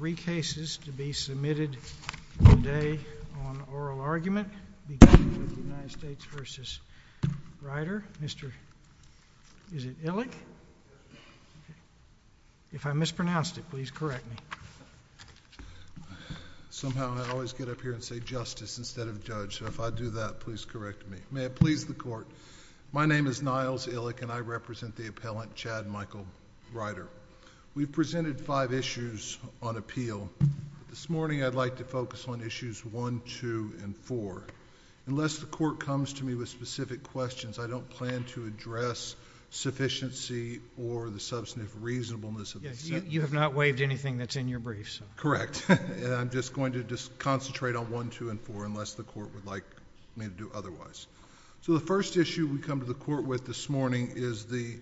Three cases to be submitted today on oral argument regarding the United States v. Rider. Mr. Illick, if I mispronounced it please correct me. Somehow I always get up here and say justice instead of judge so if I do that please correct me. May it please the court. My name is Niles Illick and I represent the appellant Chad Michael Rider. We've presented five issues on appeal. This morning I'd like to focus on issues one, two, and four. Unless the court comes to me with specific questions I don't plan to address sufficiency or the substantive reasonableness of the sentence. You have not waived anything that's in your briefs. Correct. I'm just going to concentrate on one, two, and four unless the court would like me to do otherwise. The first issue we come to the court with this morning is the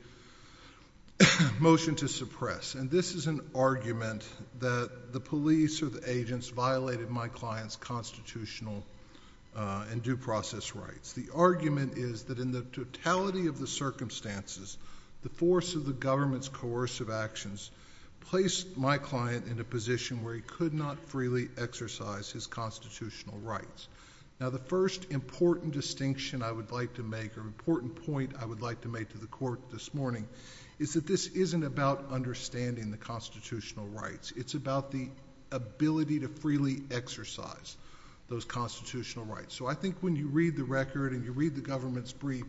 motion to suppress. This is an argument that the police or the agents violated my client's constitutional and due process rights. The argument is that in the totality of the circumstances the force of the government's coercive actions placed my client in a position where he could not freely exercise his constitutional rights. The first important distinction I would like to make or important point I would like to make to the court this morning is that this isn't about understanding the constitutional rights. It's about the ability to freely exercise those constitutional rights. I think when you read the record and you read the government's brief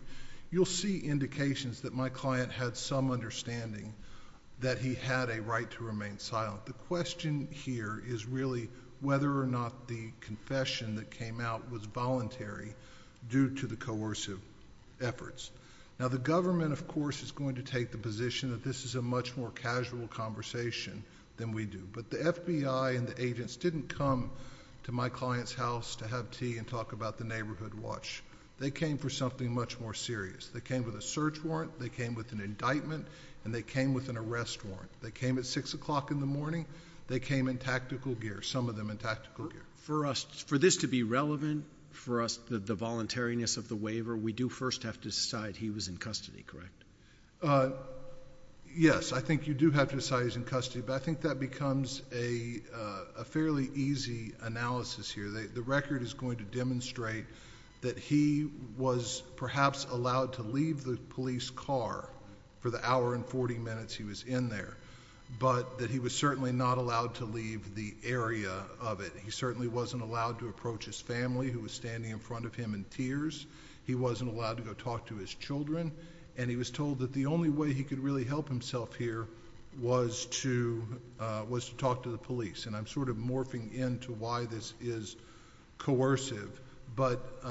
you'll see indications that my client had some understanding that he had a right to remain silent. The question here is really whether or not the confession that came out was voluntary due to the coercive efforts. The government of course is going to take the position that this is a much more casual conversation than we do. The FBI and the agents didn't come to my client's house to have tea and talk about the neighborhood watch. They came for something much more serious. They came with a search warrant. They came with an indictment. They came with an arrest warrant. They came at 6 o'clock in the morning. They came in tactical gear, some of them in tactical gear. For us, for this to be relevant, for us the voluntariness of the waiver, we do first have to decide he was in custody, correct? Yes. I think you do have to decide he's in custody, but I think that becomes a fairly easy analysis here. The record is going to demonstrate that he was perhaps allowed to leave the police car for the hour and 40 minutes he was in there, but that he was certainly not allowed to leave the area of it. He certainly wasn't allowed to approach his family who was standing in front of him in tears. He wasn't allowed to go talk to his children. He was told that the only way he could really help himself here was to talk to the police. I'm sort of morphing into why this is coercive, but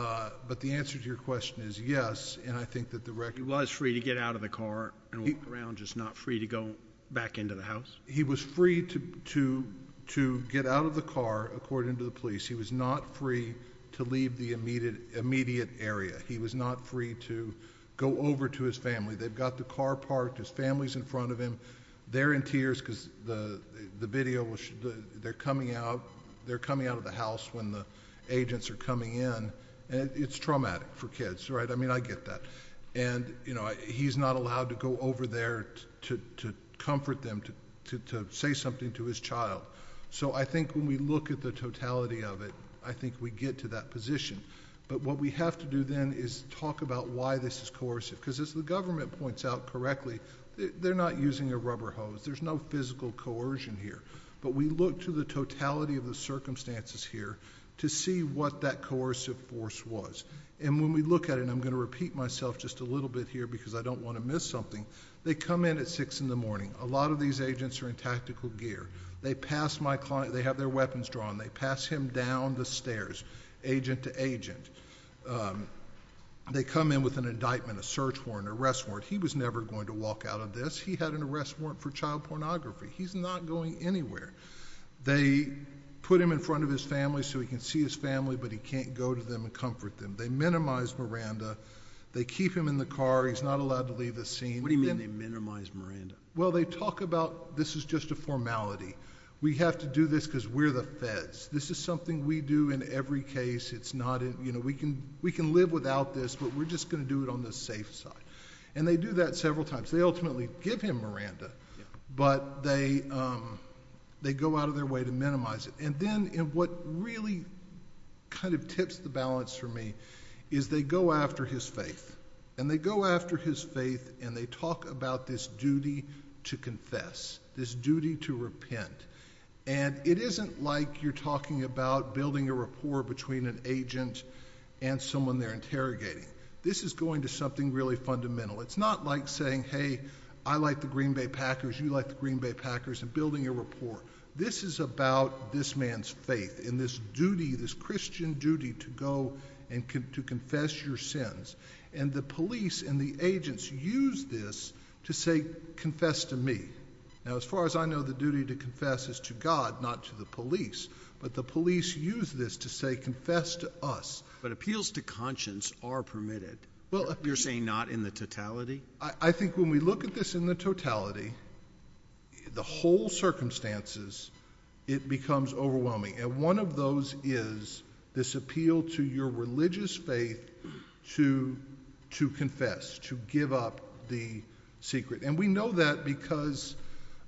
the answer to your question is yes. I think that the record... He was free to get out of the car and walk around, just not free to go back into the house? He was free to get out of the car, according to the police. He was not free to leave the immediate area. He was not free to go over to his family. They've got the car parked, his family's in front of him. They're in tears because they're coming out of the house when the agents are coming in. It's traumatic for kids, right? I mean, I get that. He's not allowed to go over there to comfort them, to say something to his child. I think when we look at the totality of it, I think we get to that position. What we have to do then is talk about why this is coercive, because as the government points out correctly, they're not using a rubber hose. There's no physical coercion here, but we look to the totality of the circumstances here to see what that coercive force was. When we look at it, and I'm going to repeat myself just a little bit here because I don't want to miss something, they come in at six in the morning. A lot of these agents are in tactical gear. They pass my client... they have their weapons drawn. They pass him down the stairs, agent to agent. They come in with an indictment, a search warrant, an arrest warrant. He was never going to walk out of this. He had an arrest warrant for child pornography. He's not going anywhere. They put him in front of his family so he can see his family, but he can't go to them and comfort them. They minimize Miranda. They keep him in the car. He's not allowed to leave the scene. What do you mean they minimize Miranda? Well, they talk about this is just a formality. We have to do this because we're the feds. This is something we do in every case. We can live without this, but we're just going to do it on the safe side. They do that several times. They ultimately give him Miranda, but they go out of their way to minimize it. Then what really tips the balance for me is they go after his faith. They go after his faith and they talk about this duty to confess, this duty to repent. It isn't like you're talking about building a rapport between an agent and someone they're interrogating. This is going to something really fundamental. It's not like saying, hey, I like the Green Bay Packers, you like the Green Bay Packers and building a rapport. This is about this man's faith and this duty, this Christian duty to go and to confess your sins and the police and the agents use this to say, confess to me. Now, as far as I know, the duty to confess is to God, not to the police, but the police use this to say, confess to us. But appeals to conscience are permitted. You're saying not in the totality? I think when we look at this in the totality, the whole circumstances, it becomes overwhelming. One of those is this appeal to your religious faith to confess, to give up the secret. We know that because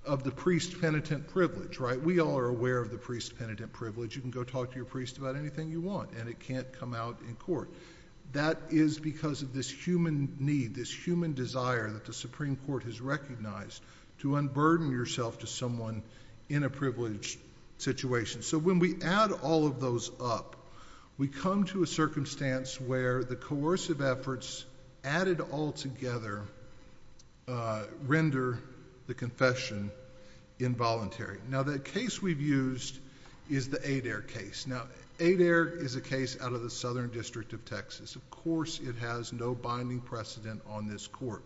of the priest penitent privilege. We all are aware of the priest penitent privilege. You can go talk to your priest about anything you want and it can't come out in court. That is because of this human need, this human desire that the Supreme Court has recognized to unburden yourself to someone in a privileged situation. When we add all of those up, we come to a circumstance where the coercive efforts added all together render the confession involuntary. The case we've used is the Adair case. Now, Adair is a case out of the Southern District of Texas. Of course, it has no binding precedent on this court.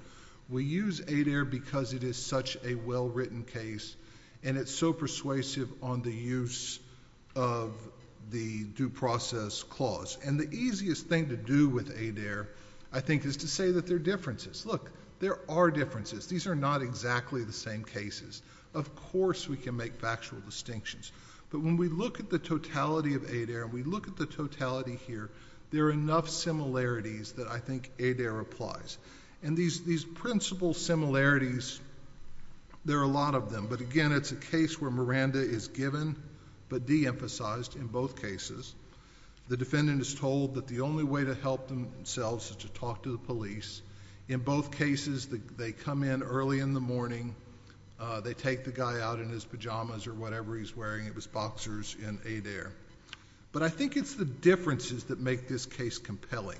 We use Adair because it is such a well-written case and it's so persuasive on the use of the due process clause. The easiest thing to do with Adair, I think, is to say that there are differences. Look, there are differences. These are not exactly the same cases. Of course, we can make factual distinctions. But when we look at the totality of Adair, we look at the totality here, there are enough similarities that I think Adair applies. These principal similarities, there are a lot of them, but again, it's a case where Miranda is given but de-emphasized in both cases. The defendant is told that the only way to help themselves is to talk to the police. In both cases, they come in early in the morning, they take the guy out in his pajamas or whatever he's wearing. It was boxers in Adair. But I think it's the differences that make this case compelling.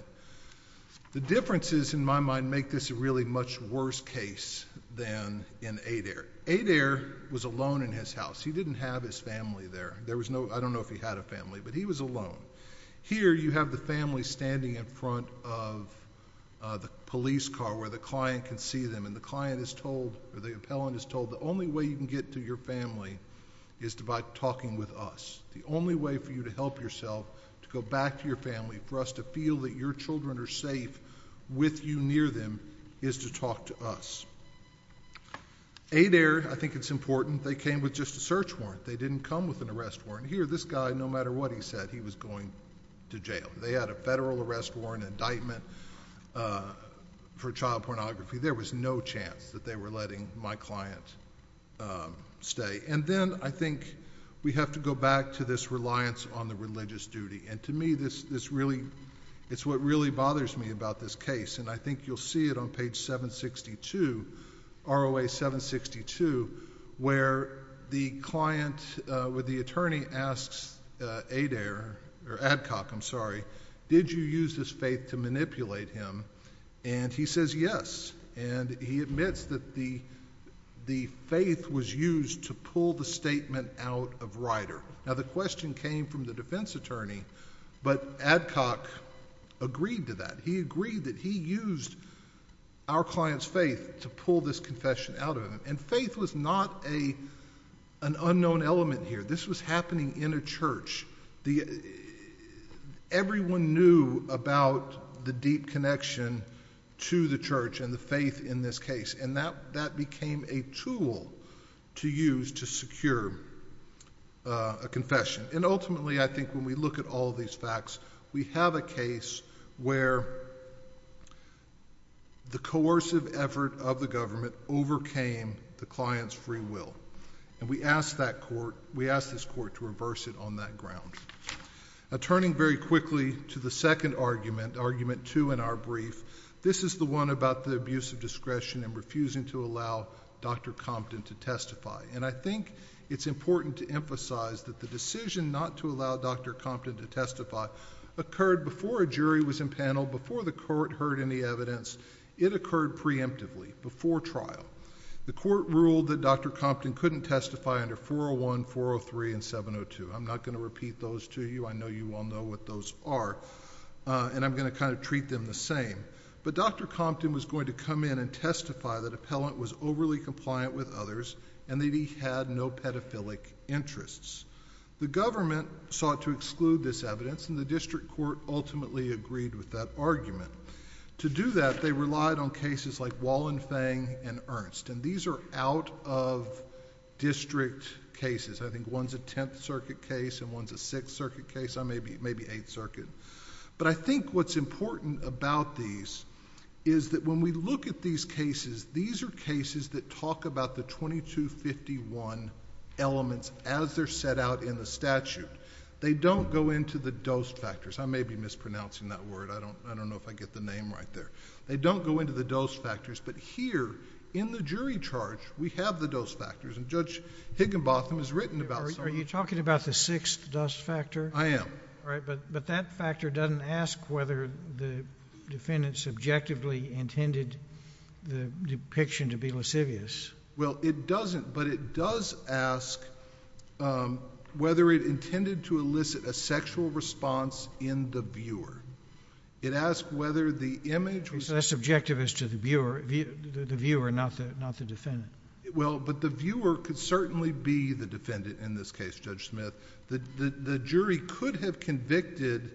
The differences, in my mind, make this a really much worse case than in Adair. Adair was alone in his house. He didn't have his family there. I don't know if he had a family, but he was alone. Here you have the family standing in front of the police car where the client can see them, and the client is told, or the appellant is told, the only way you can get to your family is by talking with us. The only way for you to help yourself, to go back to your family, for us to feel that your children are safe with you near them, is to talk to us. Adair, I think it's important, they came with just a search warrant. They didn't come with an arrest warrant. Here, this guy, no matter what he said, he was going to jail. They had a federal arrest warrant, an indictment for child pornography. There was no chance that they were letting my client stay. Then, I think we have to go back to this reliance on the religious duty. To me, it's what really bothers me about this case. I think you'll see it on page 762, ROA 762, where the client, where the attorney asks Adair, or Adcock, I'm sorry, did you use this faith to manipulate him? He says yes, and he admits that the faith was used to pull the statement out of Ryder. The question came from the defense attorney, but Adcock agreed to that. He agreed that he used our client's faith to pull this confession out of him. Faith was not an unknown element here. This was happening in a church. Everyone knew about the deep connection to the church and the faith in this case, and that became a tool to use to secure a confession. Ultimately, I think when we look at all these facts, we have a case where the coercive effort of the government overcame the client's free will. We asked this court to reverse it on that ground. Turning very quickly to the second argument, argument two in our brief, this is the one about the abuse of discretion and refusing to allow Dr. Compton to testify. I think it's important to emphasize that the decision not to allow Dr. Compton to testify occurred before a jury was in panel, before the court heard any evidence. It occurred preemptively, before trial. The court ruled that Dr. Compton couldn't testify under 401, 403, and 702. I'm not going to repeat those to you. I know you all know what those are, and I'm going to treat them the same. Dr. Compton was going to come in and testify that Appellant was overly compliant with others and that he had no pedophilic interests. The government sought to exclude this evidence, and the district court ultimately agreed with that argument. To do that, they relied on cases like Wallenfang and Ernst. These are out-of-district cases. I think one's a Tenth Circuit case and one's a Sixth Circuit case, maybe Eighth Circuit. I think what's important about these is that when we look at these cases, these are cases that talk about the 2251 elements as they're set out in the statute. They don't go into the dose factors. I may be mispronouncing that word. I don't know if I get the name right there. They don't go into the dose factors, but here in the jury charge, we have the dose factors. Judge Higginbotham has written about some of...... Are you talking about the sixth dose factor? I am. All right, but that factor doesn't ask whether the defendant subjectively intended the depiction to be lascivious. Well, it doesn't, but it does ask whether it intended to elicit a sexual response in the viewer. It asks whether the image... So that's subjective as to the viewer, not the defendant. Well, but the viewer could certainly be the defendant in this case, Judge Smith. The jury could have convicted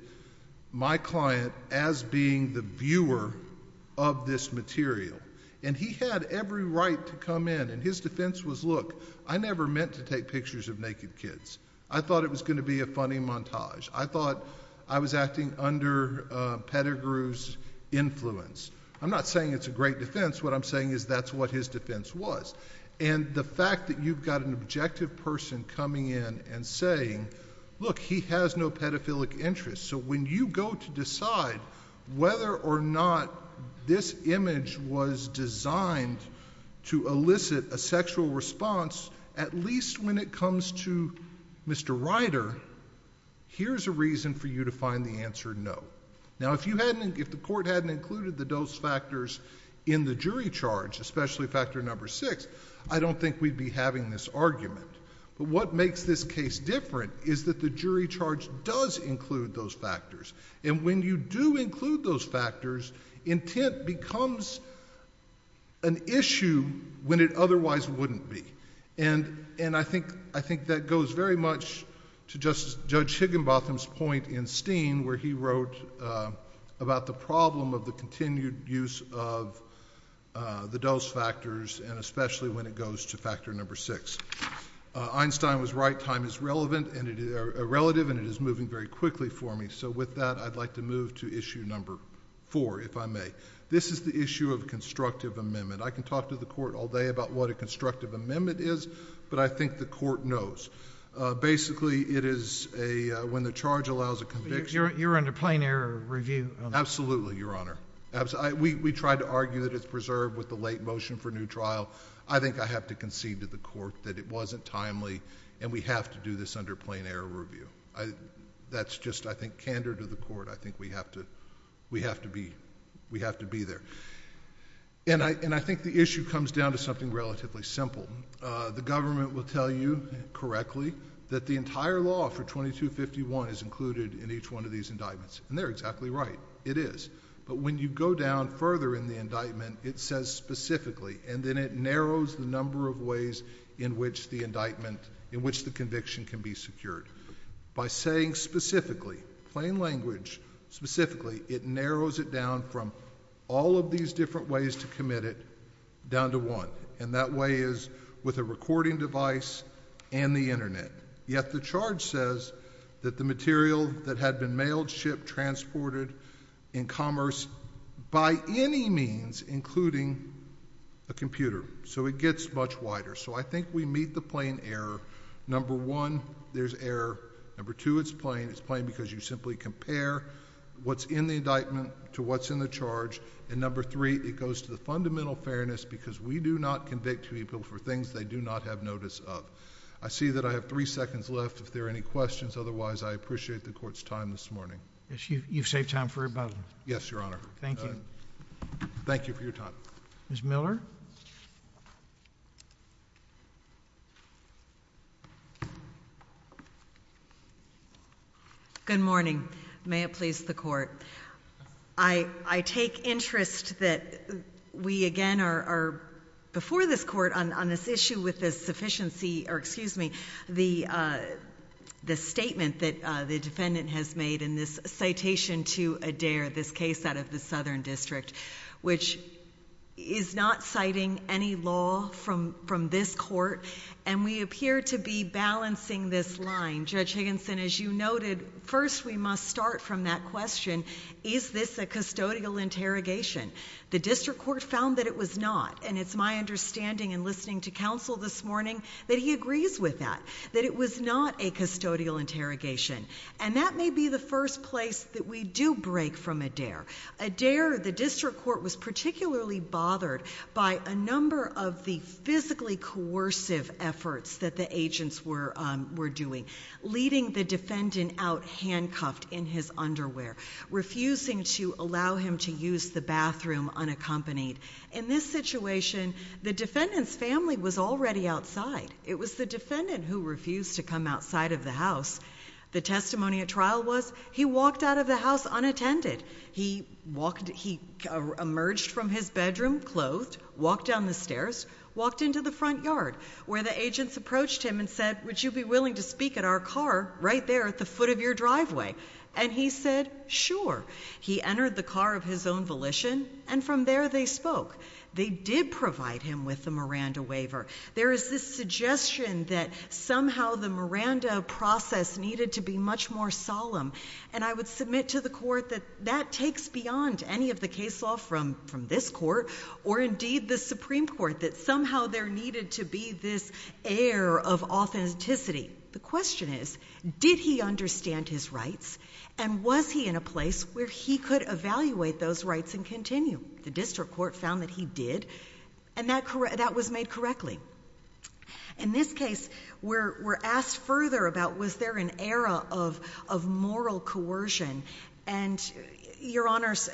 my client as being the viewer of this material and he had every right to come in and his defense was, look, I never meant to take pictures of naked kids. I thought it was going to be a funny montage. I thought I was acting under Pettigrew's influence. I'm not saying it's a great defense. What I'm saying is that's what his defense was. The fact that you've got an objective person coming in and saying, look, he has no pedophilic interest, so when you go to decide whether or not this image was designed to elicit a sexual response, at least when it comes to Mr. Ryder, here's a reason for you to find the answer no. Now if the court hadn't included the dose factors in the jury charge, especially factor number six, I don't think we'd be having this argument. What makes this case different is that the jury charge does include those factors and when you do include those factors, intent becomes an issue when it otherwise wouldn't be. I think that goes very much to Judge Higginbotham's point in Steen where he wrote about the problem of the continued use of the dose factors and especially when it goes to factor number six. Einstein was right, time is relevant and it is relative and it is moving very quickly for me. With that, I'd like to move to issue number four, if I may. This is the issue of constructive amendment. I can talk to the court all day about what a constructive amendment is, but I think the court knows. Basically it is a... when the charge allows a conviction... You're under plain error of review on that? Absolutely, Your Honor. We tried to argue that it's preserved with the late motion for new trial. I think I have to concede to the court that it wasn't timely and we have to do this under plain error of review. That's just, I think, candor to the court. I think we have to be there. I think the issue comes down to something relatively simple. The government will tell you correctly that the entire law for 2251 is included in each one of these indictments and they're exactly right, it is, but when you go down further in the indictment, it says specifically and then it narrows the number of ways in which the indictment, in which the conviction can be secured. By saying specifically, plain language, specifically, it narrows it down from all of these different ways to commit it down to one and that way is with a recording device and the internet, yet the charge says that the material that had been mailed, shipped, transported in commerce by any means, including a computer, so it gets much wider. I think we meet the plain error. Number one, there's error. Number two, it's plain. It's plain because you simply compare what's in the indictment to what's in the charge and number three, it goes to the fundamental fairness because we do not convict people for things they do not have notice of. I see that I have three seconds left if there are any questions, otherwise I appreciate the Court's time this morning. Yes, you've saved time for about... Yes, Your Honor. Thank you. Thank you for your time. Ms. Miller? Good morning. May it please the Court. I take interest that we again are before this Court on this issue with this sufficiency or excuse me, the statement that the defendant has made in this citation to Adair, this case out of the Southern District, which is not citing any law from this Court and we appear to be balancing this line. Judge Higginson, as you noted, first we must start from that question, is this a custodial interrogation? The District Court found that it was not and it's my understanding and listening to counsel this morning that he agrees with that, that it was not a custodial interrogation and that may be the first place that we do break from Adair. Adair, the District Court was particularly bothered by a number of the leading the defendant out handcuffed in his underwear, refusing to allow him to use the bathroom unaccompanied. In this situation, the defendant's family was already outside. It was the defendant who refused to come outside of the house. The testimony at trial was he walked out of the house unattended. He emerged from his bedroom clothed, walked down the stairs, walked into the front yard where the agents approached him and said, would you be willing to speak at our car right there at the foot of your driveway? And he said, sure. He entered the car of his own volition and from there they spoke. They did provide him with the Miranda waiver. There is this suggestion that somehow the Miranda process needed to be much more solemn and I would submit to the court that that takes beyond any of the case law from this court or indeed the Supreme Court, that somehow there needed to be this air of authenticity. The question is, did he understand his rights and was he in a place where he could evaluate those rights and continue? The district court found that he did and that was made correctly. In this case, we're asked further about was there an era of moral coercion and your honors,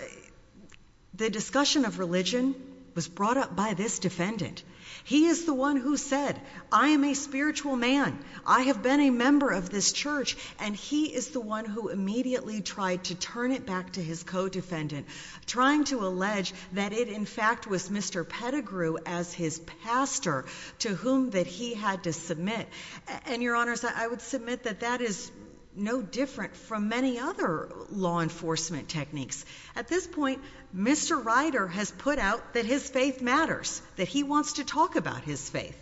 the discussion of religion was brought up by this defendant. He is the one who said, I am a spiritual man. I have been a member of this church and he is the one who immediately tried to turn it back to his co-defendant, trying to allege that it in fact was Mr. Pettigrew as his pastor to whom that he had to submit. And your honors, I would submit that that is no different from many other law enforcement techniques. At this point, Mr. Ryder has put out that his faith matters, that he wants to talk about his faith.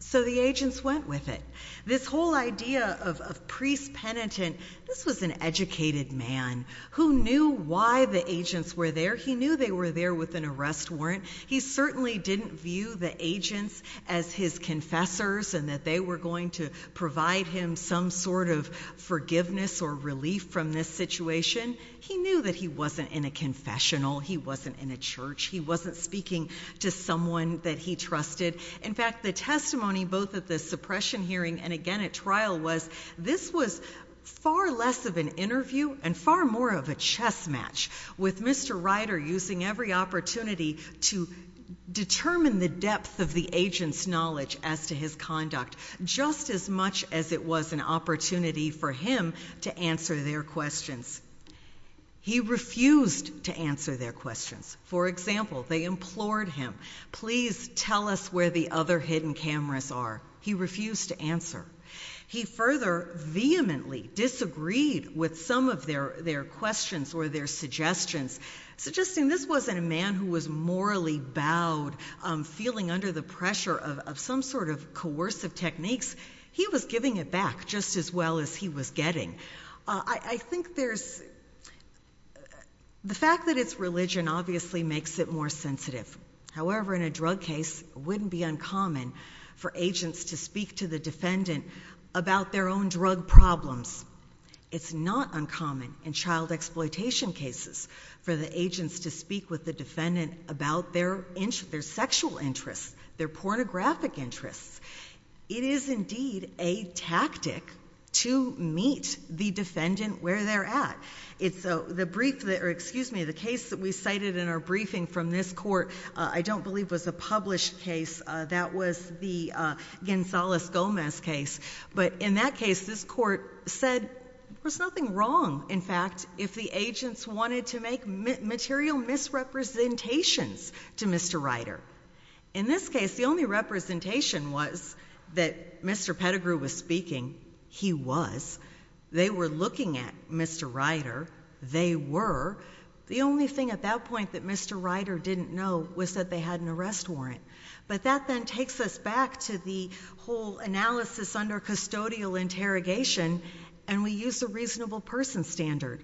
So the agents went with it. This whole idea of priest penitent, this was an educated man who knew why the agents were there. He knew they were there with an arrest warrant. He certainly didn't view the agents as his confessors and that they were going to provide him some sort of forgiveness or relief from this situation. He knew that he wasn't in a confessional. He wasn't in a church. He wasn't speaking to someone that he trusted. In fact, the testimony both at the suppression hearing and again at trial was this was far less of an interview and far more of a chess match with Mr. Ryder using every opportunity to determine the depth of the agent's knowledge as to his conduct, just as much as it was an opportunity for him to answer their questions. He refused to answer their questions. For example, they implored him. Please tell us where the other hidden cameras are. He refused to answer. He further vehemently disagreed with some of their questions or their suggestions, suggesting this wasn't a man who was morally bowed, feeling under the pressure of some sort of coercive techniques. He was giving it back just as well as he was getting. I think there's the fact that it's religion obviously makes it more difficult for the defendants to speak to the defendant about their own drug problems. It's not uncommon in child exploitation cases for the agents to speak with the defendant about their sexual interests, their pornographic interests. It is indeed a tactic to meet the defendant where they're at. The case that we cited in our briefing from this court, I don't believe was a published case. That was the Gonzales-Gomez case. But in that case, this court said there's nothing wrong, in fact, if the agents wanted to make material misrepresentations to Mr. Ryder. In this case, the only representation was that Mr. Pettigrew was speaking. He was. They were looking at Mr. Ryder. They were. The only thing at that point that Mr. Ryder didn't know was that they had an arrest warrant. But that then takes us back to the whole analysis under custodial interrogation. And we use a reasonable person standard.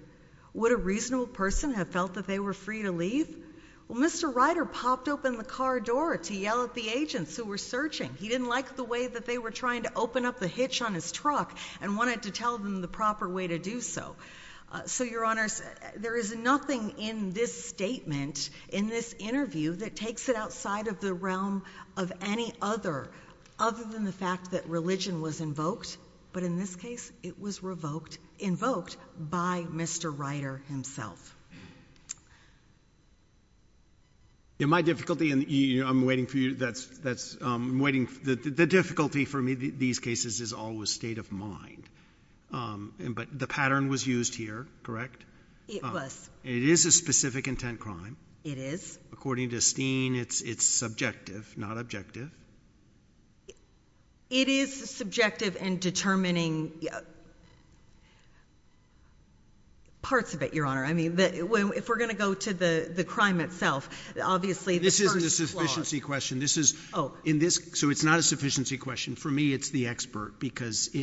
Would a reasonable person have felt that they were free to leave? Well, Mr. Ryder popped open the car door to yell at the agents who were searching. He didn't like the way that they were trying to open up the hitch on his truck and wanted to tell them the proper way to do so. So, Your Honor, there is nothing in this statement, in this interview, that takes it outside of the realm of any other other than the fact that religion was invoked. But in this case, it was revoked, invoked by Mr. Ryder himself. In my difficulty, and I'm waiting for you, that's that's waiting. The difficulty for me, these cases is always state of mind. But the pattern was used here, correct? It was. It is a specific intent crime. It is. According to Steen, it's subjective, not objective. It is subjective in determining. Parts of it, Your Honor, I mean, if we're going to go to the crime itself, obviously, this is a sufficiency question. This is oh, in this. So it's not a sufficiency question for me. It's the expert, because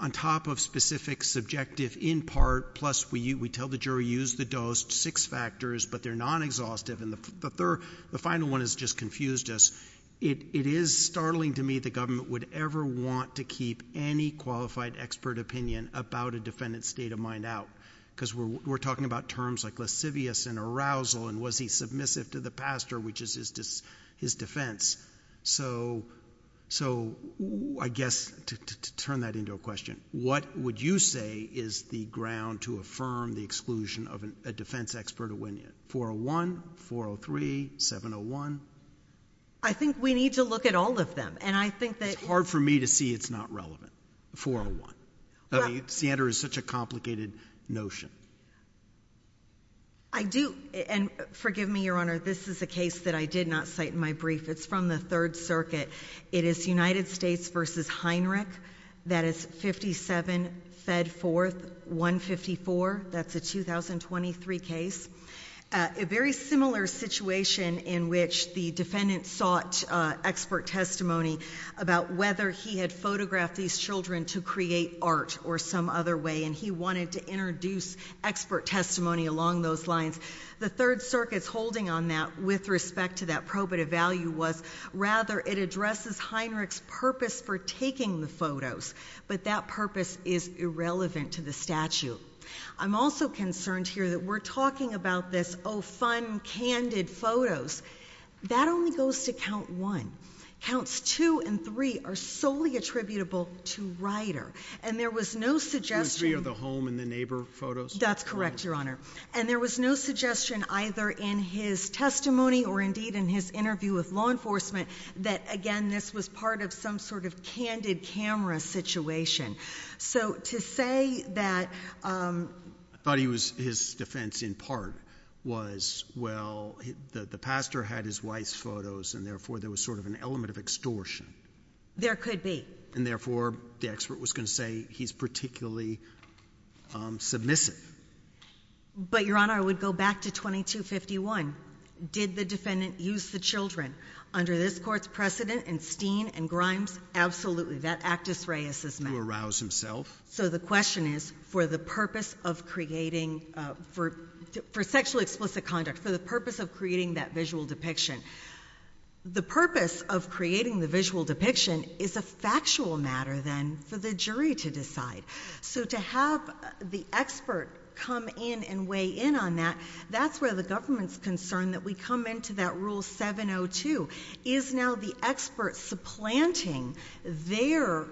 on top of specific, subjective, in part, plus we tell the jury, use the dose, six factors, but they're non-exhaustive. And the third, the final one has just confused us. It is startling to me the government would ever want to keep any qualified expert opinion about a defendant's state of mind out. Because we're talking about terms like lascivious and arousal. And was he submissive to the pastor, which is his defense? So I guess to turn that into a question, what would you say is the ground to affirm the exclusion of a defense expert opinion? 401, 403, 701? I think we need to look at all of them. And I think that. It's hard for me to see it's not relevant. 401. I mean, Sandra, it's such a complicated notion. I do. It's from the Third Circuit. It is United States versus Heinrich. That is 57 fed forth, 154. That's a 2023 case. A very similar situation in which the defendant sought expert testimony about whether he had photographed these children to create art or some other way. And he wanted to introduce expert testimony along those lines. The Third Circuit's holding on that with respect to that probative value was, rather, it addresses Heinrich's purpose for taking the photos. But that purpose is irrelevant to the statute. I'm also concerned here that we're talking about this, oh, fun, candid photos. That only goes to count one. Counts two and three are solely attributable to Ryder. And there was no suggestion. Two and three are the home and the neighbor photos? That's correct, Your Honor. And there was no suggestion either in his testimony or, indeed, in his interview with law enforcement that, again, this was part of some sort of candid camera situation. So to say that. I thought he was, his defense in part was, well, the pastor had his wife's photos and, therefore, there was sort of an element of extortion. There could be. And, therefore, the expert was going to say he's particularly submissive. But, Your Honor, I would go back to 2251. Did the defendant use the children? Under this court's precedent, and Steen and Grimes, absolutely. That actus reus is met. To arouse himself. So the question is, for the purpose of creating, for sexually explicit conduct, for the purpose of creating that visual depiction, the purpose of creating the visual depiction is a factual matter, then, for the jury to decide. So to have the expert come in and weigh in on that, that's where the government's concern that we come into that Rule 702, is now the expert supplanting their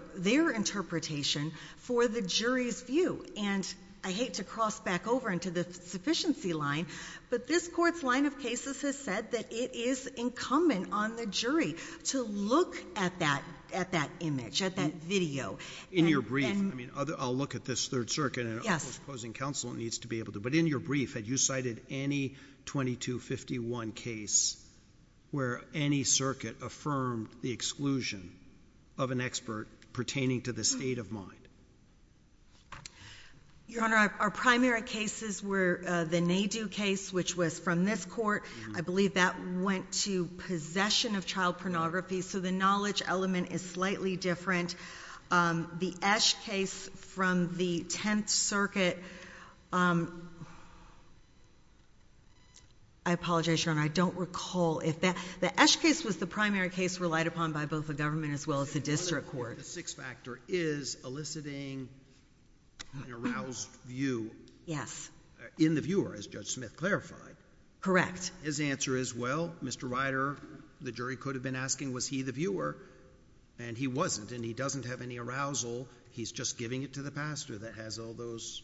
interpretation for the jury's view. And I hate to cross back over into the sufficiency line, but this court's line of cases has said that it is incumbent on the jury to look at that image, at that video. In your brief, I mean, I'll look at this Third Circuit and opposing counsel needs to be able to, but in your brief, had you cited any 2251 case where any circuit affirmed the exclusion of an expert pertaining to the state of mind? Your Honor, our primary cases were the NADU case, which was from this court. I believe that went to possession of child pornography. So the knowledge element is slightly different. The Esch case from the Tenth Circuit, I apologize, Your Honor, I don't recall if that, the Esch case was the primary case relied upon by both the government as well as the district court. The sixth factor is eliciting an aroused view. Yes. In the viewer, as Judge Smith clarified. Correct. His answer is, well, Mr. Ryder, the jury could have been asking, was he the one who was being extorted by Mr. Pettigrew? Was he the one who was being extorted by Mr. Pettigrew? And if he doesn't have any arousal, he's just giving it to the pastor that has all those.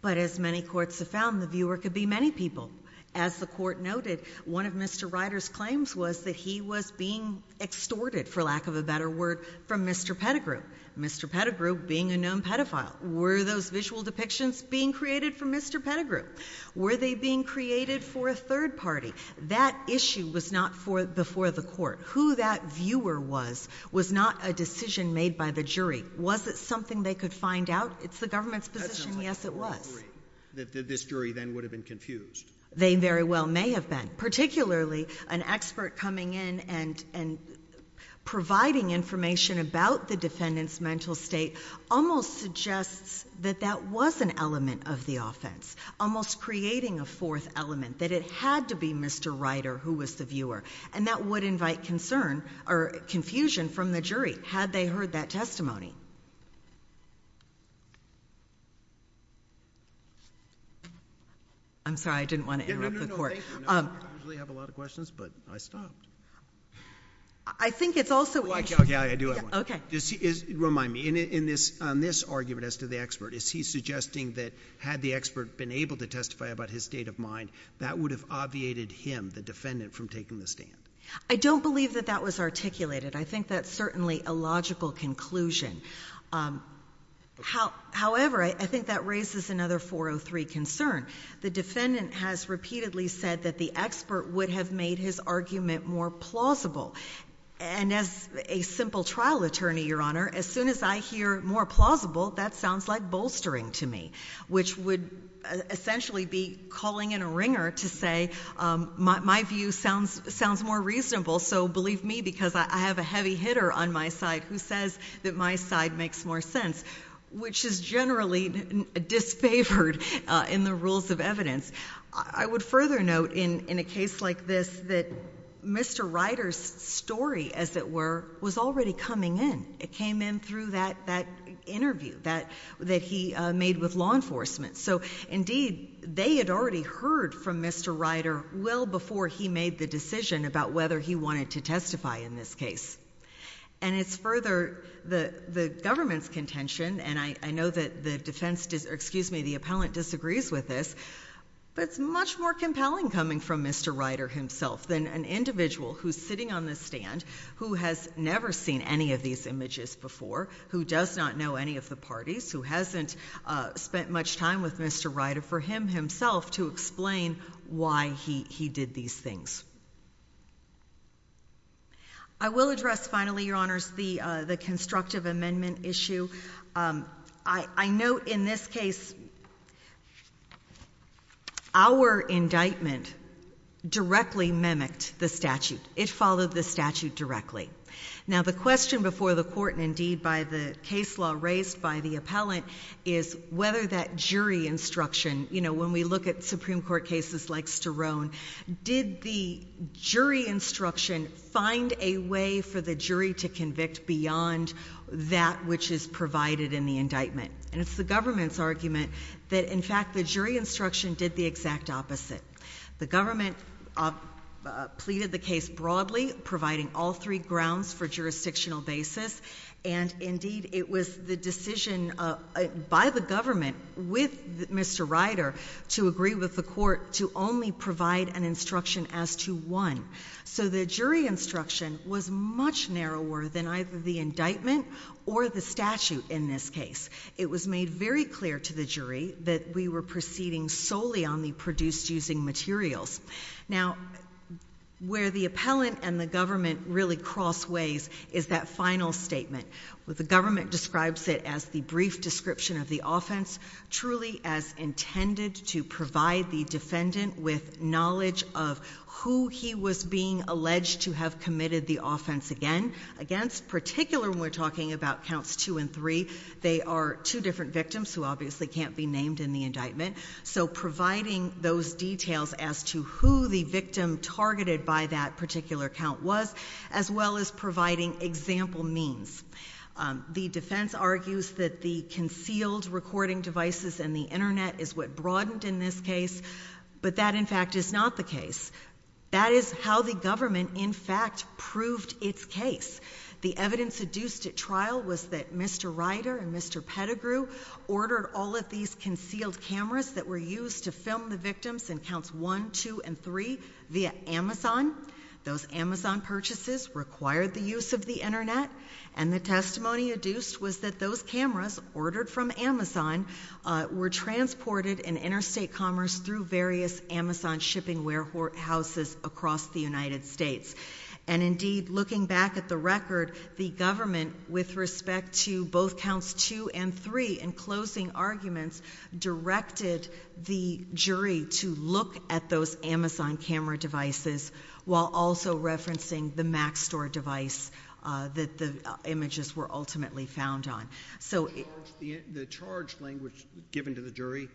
But as many courts have found, the viewer could be many people. As the court noted, one of Mr. Ryder's claims was that he was being extorted, for lack of a better word, from Mr. Pettigrew. Mr. Pettigrew being a known pedophile. Were those visual depictions being created from Mr. Pettigrew? Were they being created for a third party? That issue was not for, before the court. Who that viewer was, was not a decision made by the jury. Was it something they could find out? It's the government's position. Yes, it was. That this jury then would have been confused. They very well may have been. Particularly an expert coming in and, and providing information about the defendant's mental state almost suggests that that was an element of the offense. Almost creating a fourth element. That it had to be Mr. Ryder who was the viewer. And that would invite concern or confusion from the jury, had they heard that testimony. I'm sorry, I didn't want to interrupt the court. No, no, no, no, thank you. I usually have a lot of questions, but I stopped. I think it's also. Okay, I do have one. Okay. Just remind me, in this, on this argument as to the expert, is he suggesting that had the expert been able to testify about his state of mind, that would have obviated him, the defendant from taking the stand? I don't believe that that was articulated. I think that's certainly a logical conclusion. Um, how, however, I think that raises another 403 concern. The defendant has repeatedly said that the expert would have made his argument more plausible. And as a simple trial attorney, Your Honor, as soon as I hear more of this, I would be bolstering to me, which would essentially be calling in a ringer to say, um, my, my view sounds, sounds more reasonable. So believe me, because I have a heavy hitter on my side who says that my side makes more sense, which is generally disfavored, uh, in the rules of evidence. I would further note in, in a case like this, that Mr. Ryder's story, as it were, was already coming in. It came in through that, that interview that, that he made with law enforcement. So indeed they had already heard from Mr. Ryder well before he made the decision about whether he wanted to testify in this case and it's further the, the government's contention. And I, I know that the defense does, excuse me, the appellant disagrees with this, but it's much more compelling coming from Mr. Ryder himself than an individual who's sitting on the stand who has never seen any of these images before, who does not know any of the parties, who hasn't, uh, spent much time with Mr. Ryder for him himself to explain why he, he did these things. I will address finally, Your Honors, the, uh, the constructive amendment issue. Um, I, I know in this case, our indictment directly mimicked the statute. It followed the statute directly. Now the question before the court and indeed by the case law raised by the appellant is whether that jury instruction, you know, when we look at Supreme Court cases like Sterone, did the jury instruction find a way for the jury to convict beyond that which is provided in the indictment? And it's the government's argument that in fact, the jury instruction did the exact opposite. The government, uh, uh, pleaded the case broadly providing all three grounds for jurisdictional basis. And indeed it was the decision, uh, by the government with Mr. Ryder to agree with the court to only provide an instruction as to one. So the jury instruction was much narrower than either the indictment or the statute in this case. It was made very clear to the jury that we were proceeding solely on the grounds that the indictment had been produced using materials. Now, where the appellant and the government really crossways is that final statement with the government describes it as the brief description of the offense, truly as intended to provide the defendant with knowledge of who he was being alleged to have committed the offense again, against particular, when we're talking about counts two and three, they are two different those details as to who the victim targeted by that particular count was, as well as providing example means. Um, the defense argues that the concealed recording devices and the internet is what broadened in this case, but that in fact is not the case. That is how the government in fact proved its case. The evidence seduced at trial was that Mr. Ryder and Mr. Pettigrew ordered all of these concealed cameras that were used to film the victims in counts one, two, and three via Amazon. Those Amazon purchases required the use of the internet and the testimony adduced was that those cameras ordered from Amazon, uh, were transported in interstate commerce through various Amazon shipping warehouses across the United States. And indeed looking back at the record, the government with respect to both counts two and three and closing arguments directed the jury to look at those Amazon camera devices while also referencing the Mac store device, uh, that the images were ultimately found on. So the charge language given to the jury,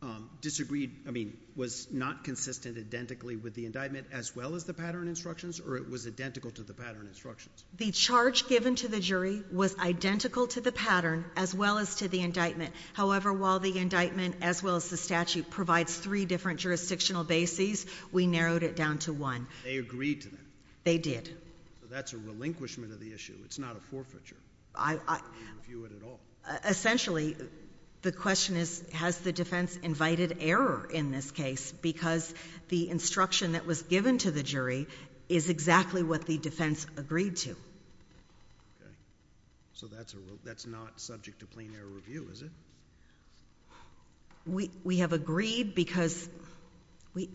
um, disagreed. I mean, was not consistent identically with the indictment as well as the pattern instructions, or it was identical to the pattern instructions. The charge given to the jury was identical to the pattern as well as to the indictment. However, while the indictment as well as the statute provides three different jurisdictional bases, we narrowed it down to one. They agreed to that. They did. That's a relinquishment of the issue. It's not a forfeiture. I, I, essentially the question is, has the defense invited error in this case? Because the instruction that was given to the jury is exactly what the defense agreed to. So that's a, that's not subject to plain error review, is it? We, we have agreed because we,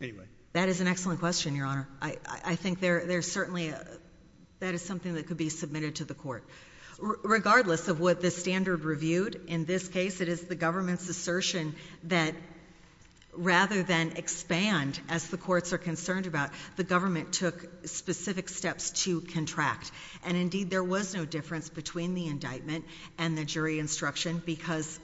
anyway, that is an excellent question, Your Honor. I, I think there, there's certainly a, that is something that could be submitted to the court regardless of what the standard reviewed. In this case, it is the government's assertion that rather than expand as the indictment does, it is the government's assertion that the indictment does not provide specific steps to contract. And indeed there was no difference between the indictment and the jury instruction because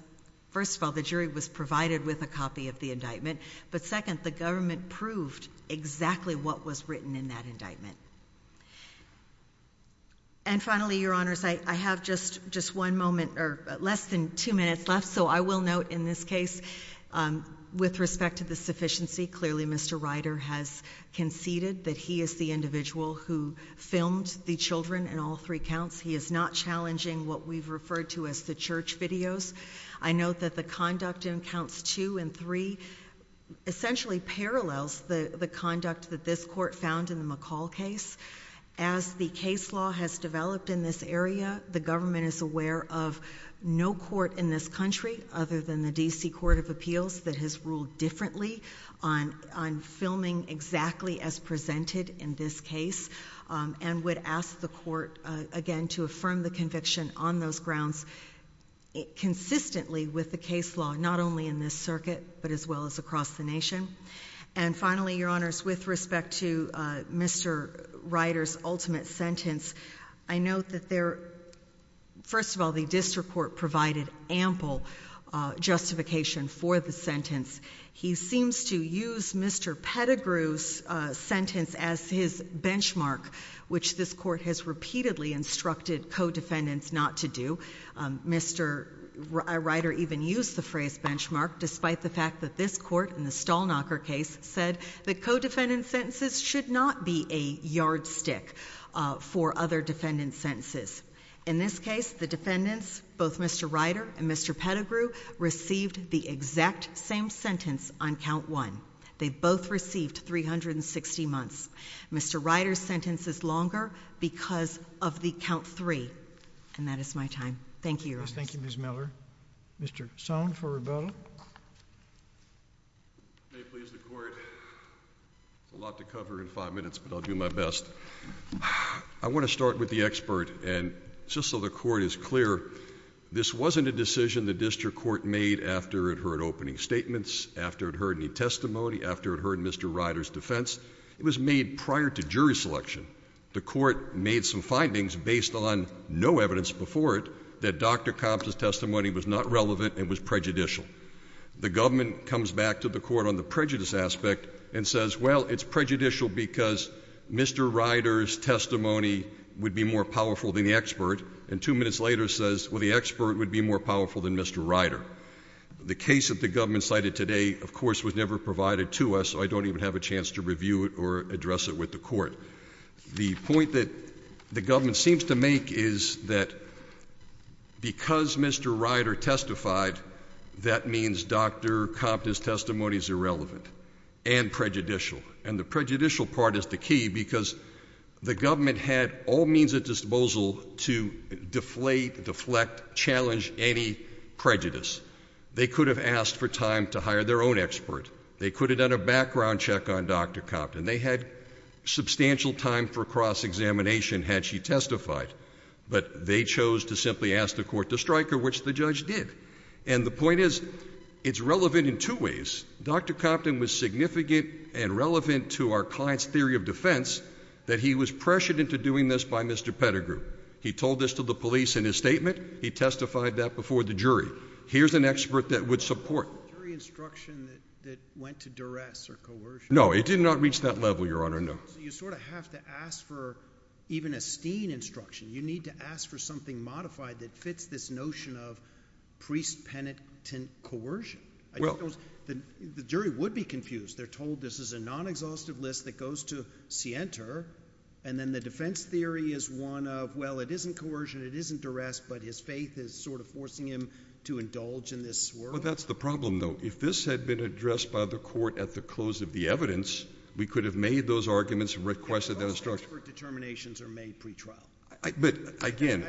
first of all, the jury was provided with a copy of the indictment, but second, the government proved exactly what was written in that indictment. And finally, Your Honors, I, I have just, just one moment or less than two minutes left, so I will note in this case, um, with respect to the sufficiency, clearly Mr. Ryder has conceded that he is the individual who filmed the children in all three counts. He is not challenging what we've referred to as the church videos. I note that the conduct in counts two and three essentially parallels the, the conduct that this court found in the McCall case. As the case law has developed in this area, the government is aware of no court in this country other than the D.C. Court of Appeals that has ruled differently on, on filming exactly as presented in this case, um, and would ask the court, uh, again to affirm the conviction on those grounds, it consistently with the case law, not only in this circuit, but as well as across the nation. And finally, Your Honors, with respect to, uh, Mr. Ryder's ultimate sentence, I note that there, first of all, the district court provided ample, uh, justification for the sentence. He seems to use Mr. Pettigrew's, uh, sentence as his benchmark, which this court has repeatedly instructed co-defendants not to do. Um, Mr. Ryder even used the phrase benchmark, despite the fact that this court in the Stallknocker case said that co-defendant sentences should not be a co-defendant sentences. In this case, the defendants, both Mr. Ryder and Mr. Pettigrew received the exact same sentence on count one. They both received 360 months. Mr. Ryder's sentence is longer because of the count three. And that is my time. Thank you, Your Honors. Thank you, Ms. Miller. Mr. Sohn for rebuttal. May it please the court. A lot to cover in five minutes, but I'll do my best. I want to start with the expert and just so the court is clear, this wasn't a decision the district court made after it heard opening statements, after it heard any testimony, after it heard Mr. Ryder's defense, it was made prior to jury selection, the court made some findings based on no evidence before it that Dr. Compton's testimony was not relevant and was prejudicial. The government comes back to the court on the prejudice aspect and says, well, it's prejudicial because Mr. Ryder's testimony would be more powerful than the expert. And two minutes later says, well, the expert would be more powerful than Mr. Ryder. The case that the government cited today, of course, was never provided to us. So I don't even have a chance to review it or address it with the court. The point that the government seems to make is that because Mr. Ryder testified, that means Dr. Compton's testimony is irrelevant and prejudicial. And the prejudicial part is the key because the government had all means at disposal to deflate, deflect, challenge any prejudice. They could have asked for time to hire their own expert. They could have done a background check on Dr. Compton. They had substantial time for cross-examination had she testified, but they chose to simply ask the court to strike her, which the judge did. And the point is it's relevant in two ways. Dr. Compton was significant and relevant to our client's theory of defense, that he was pressured into doing this by Mr. Pettigrew. He told this to the police in his statement. He testified that before the jury. Here's an expert that would support. Instruction that went to duress or coercion. No, it did not reach that level. Your Honor. No, you sort of have to ask for even a Steen instruction. You need to ask for something modified that fits this notion of priest penitent coercion, the jury would be confused. They're told this is a non-exhaustive list that goes to see enter. And then the defense theory is one of, well, it isn't coercion. It isn't duress, but his faith is sort of forcing him to indulge in this swirl. That's the problem though. If this had been addressed by the court at the close of the evidence, we could have made those arguments and requested that instructions for determinations are made pretrial, but again,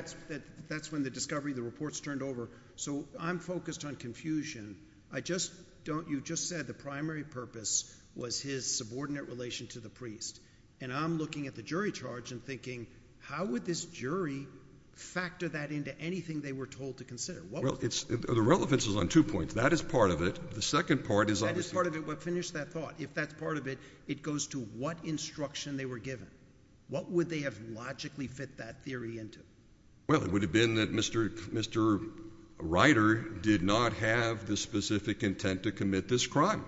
that's when the discovery, the reports turned over. So I'm focused on confusion. I just don't, you just said the primary purpose was his subordinate relation to the priest. And I'm looking at the jury charge and thinking, how would this jury factor that into anything they were told to consider? Well, it's the relevance is on two points. That is part of it. The second part is part of it. We'll finish that thought. If that's part of it, it goes to what instruction they were given. What would they have logically fit that theory into? Well, it would have been that Mr. Mr. Ryder did not have the specific intent to commit this crime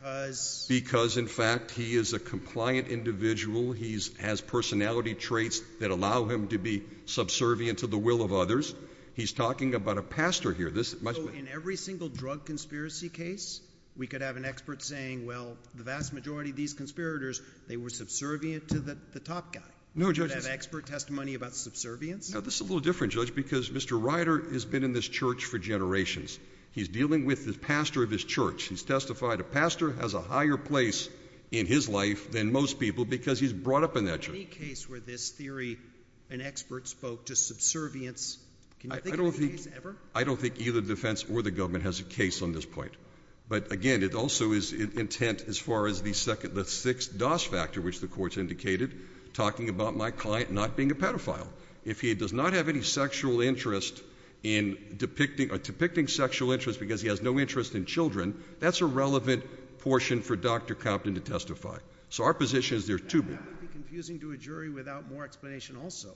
because, because in fact, he is a compliant individual. He's has personality traits that allow him to be subservient to the will of others. He's talking about a pastor here. This must be in every single drug conspiracy case. We could have an expert saying, well, the vast majority of these conspirators, they were subservient to the top guy. No judge expert testimony about subservience. No, this is a little different judge because Mr. Ryder has been in this church for generations. He's dealing with the pastor of his church. He's testified a pastor has a higher place in his life than most people because he's brought up in that case where this theory, an expert spoke to subservience, I don't think either defense or the government has a case on this point. But again, it also is intent as far as the second, the sixth DOS factor, which the courts indicated talking about my client, not being a pedophile, if he does not have any sexual interest in depicting or depicting sexual interest, because he has no interest in children, that's a relevant portion for Dr. Compton to testify. So our position is there to be confusing to a jury without more explanation. Also,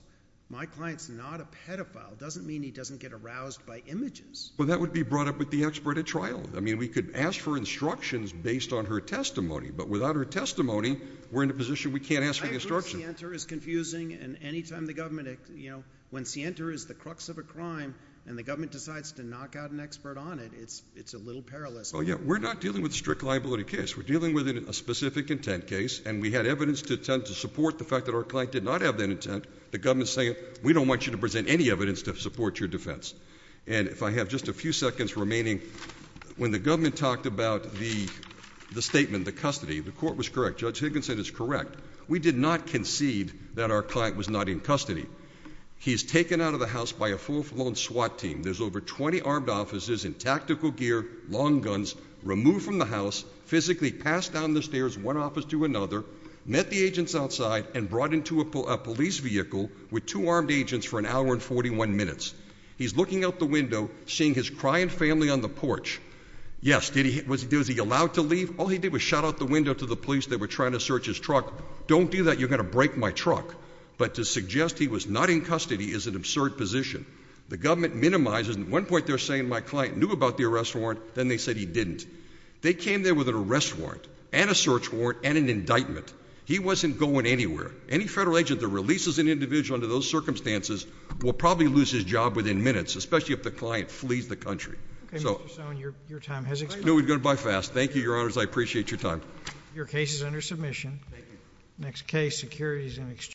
my client's not a pedophile. Doesn't mean he doesn't get aroused by images. Well, that would be brought up with the expert at trial. I mean, we could ask for instructions based on her testimony, but without her testimony, we're in a position we can't ask for instructions. I think Sienta is confusing. And anytime the government, you know, when Sienta is the crux of a crime and the government decides to knock out an expert on it, it's, it's a little perilous. Oh yeah. We're not dealing with strict liability case. We're dealing with a specific intent case. And we had evidence to tend to support the fact that our client did not have that intent. The government's saying, we don't want you to present any evidence to support your defense. And if I have just a few seconds remaining, when the government talked about the, the statement, the custody, the court was correct. Judge Higginson is correct. We did not concede that our client was not in custody. He's taken out of the house by a full-blown SWAT team. There's over 20 armed officers in tactical gear, long guns, removed from the house, physically passed down the stairs, one office to another, met the agents outside and brought into a police vehicle with two armed agents for an hour and 41 minutes. He's looking out the window, seeing his cry and family on the porch. Yes. Did he, was he, was he allowed to leave? All he did was shout out the window to the police. They were trying to search his truck. Don't do that. You're going to break my truck. But to suggest he was not in custody is an absurd position. The government minimizes. And at one point they're saying my client knew about the arrest warrant. Then they said he didn't. They came there with an arrest warrant and a search warrant and an indictment. He wasn't going anywhere. Any federal agent that releases an individual under those circumstances will probably lose his job within minutes, especially if the client flees the country. So your, your time has expired. No, we've got to buy fast. Thank you, your honors. I appreciate your time. Your case is under submission. Next case securities and exchange.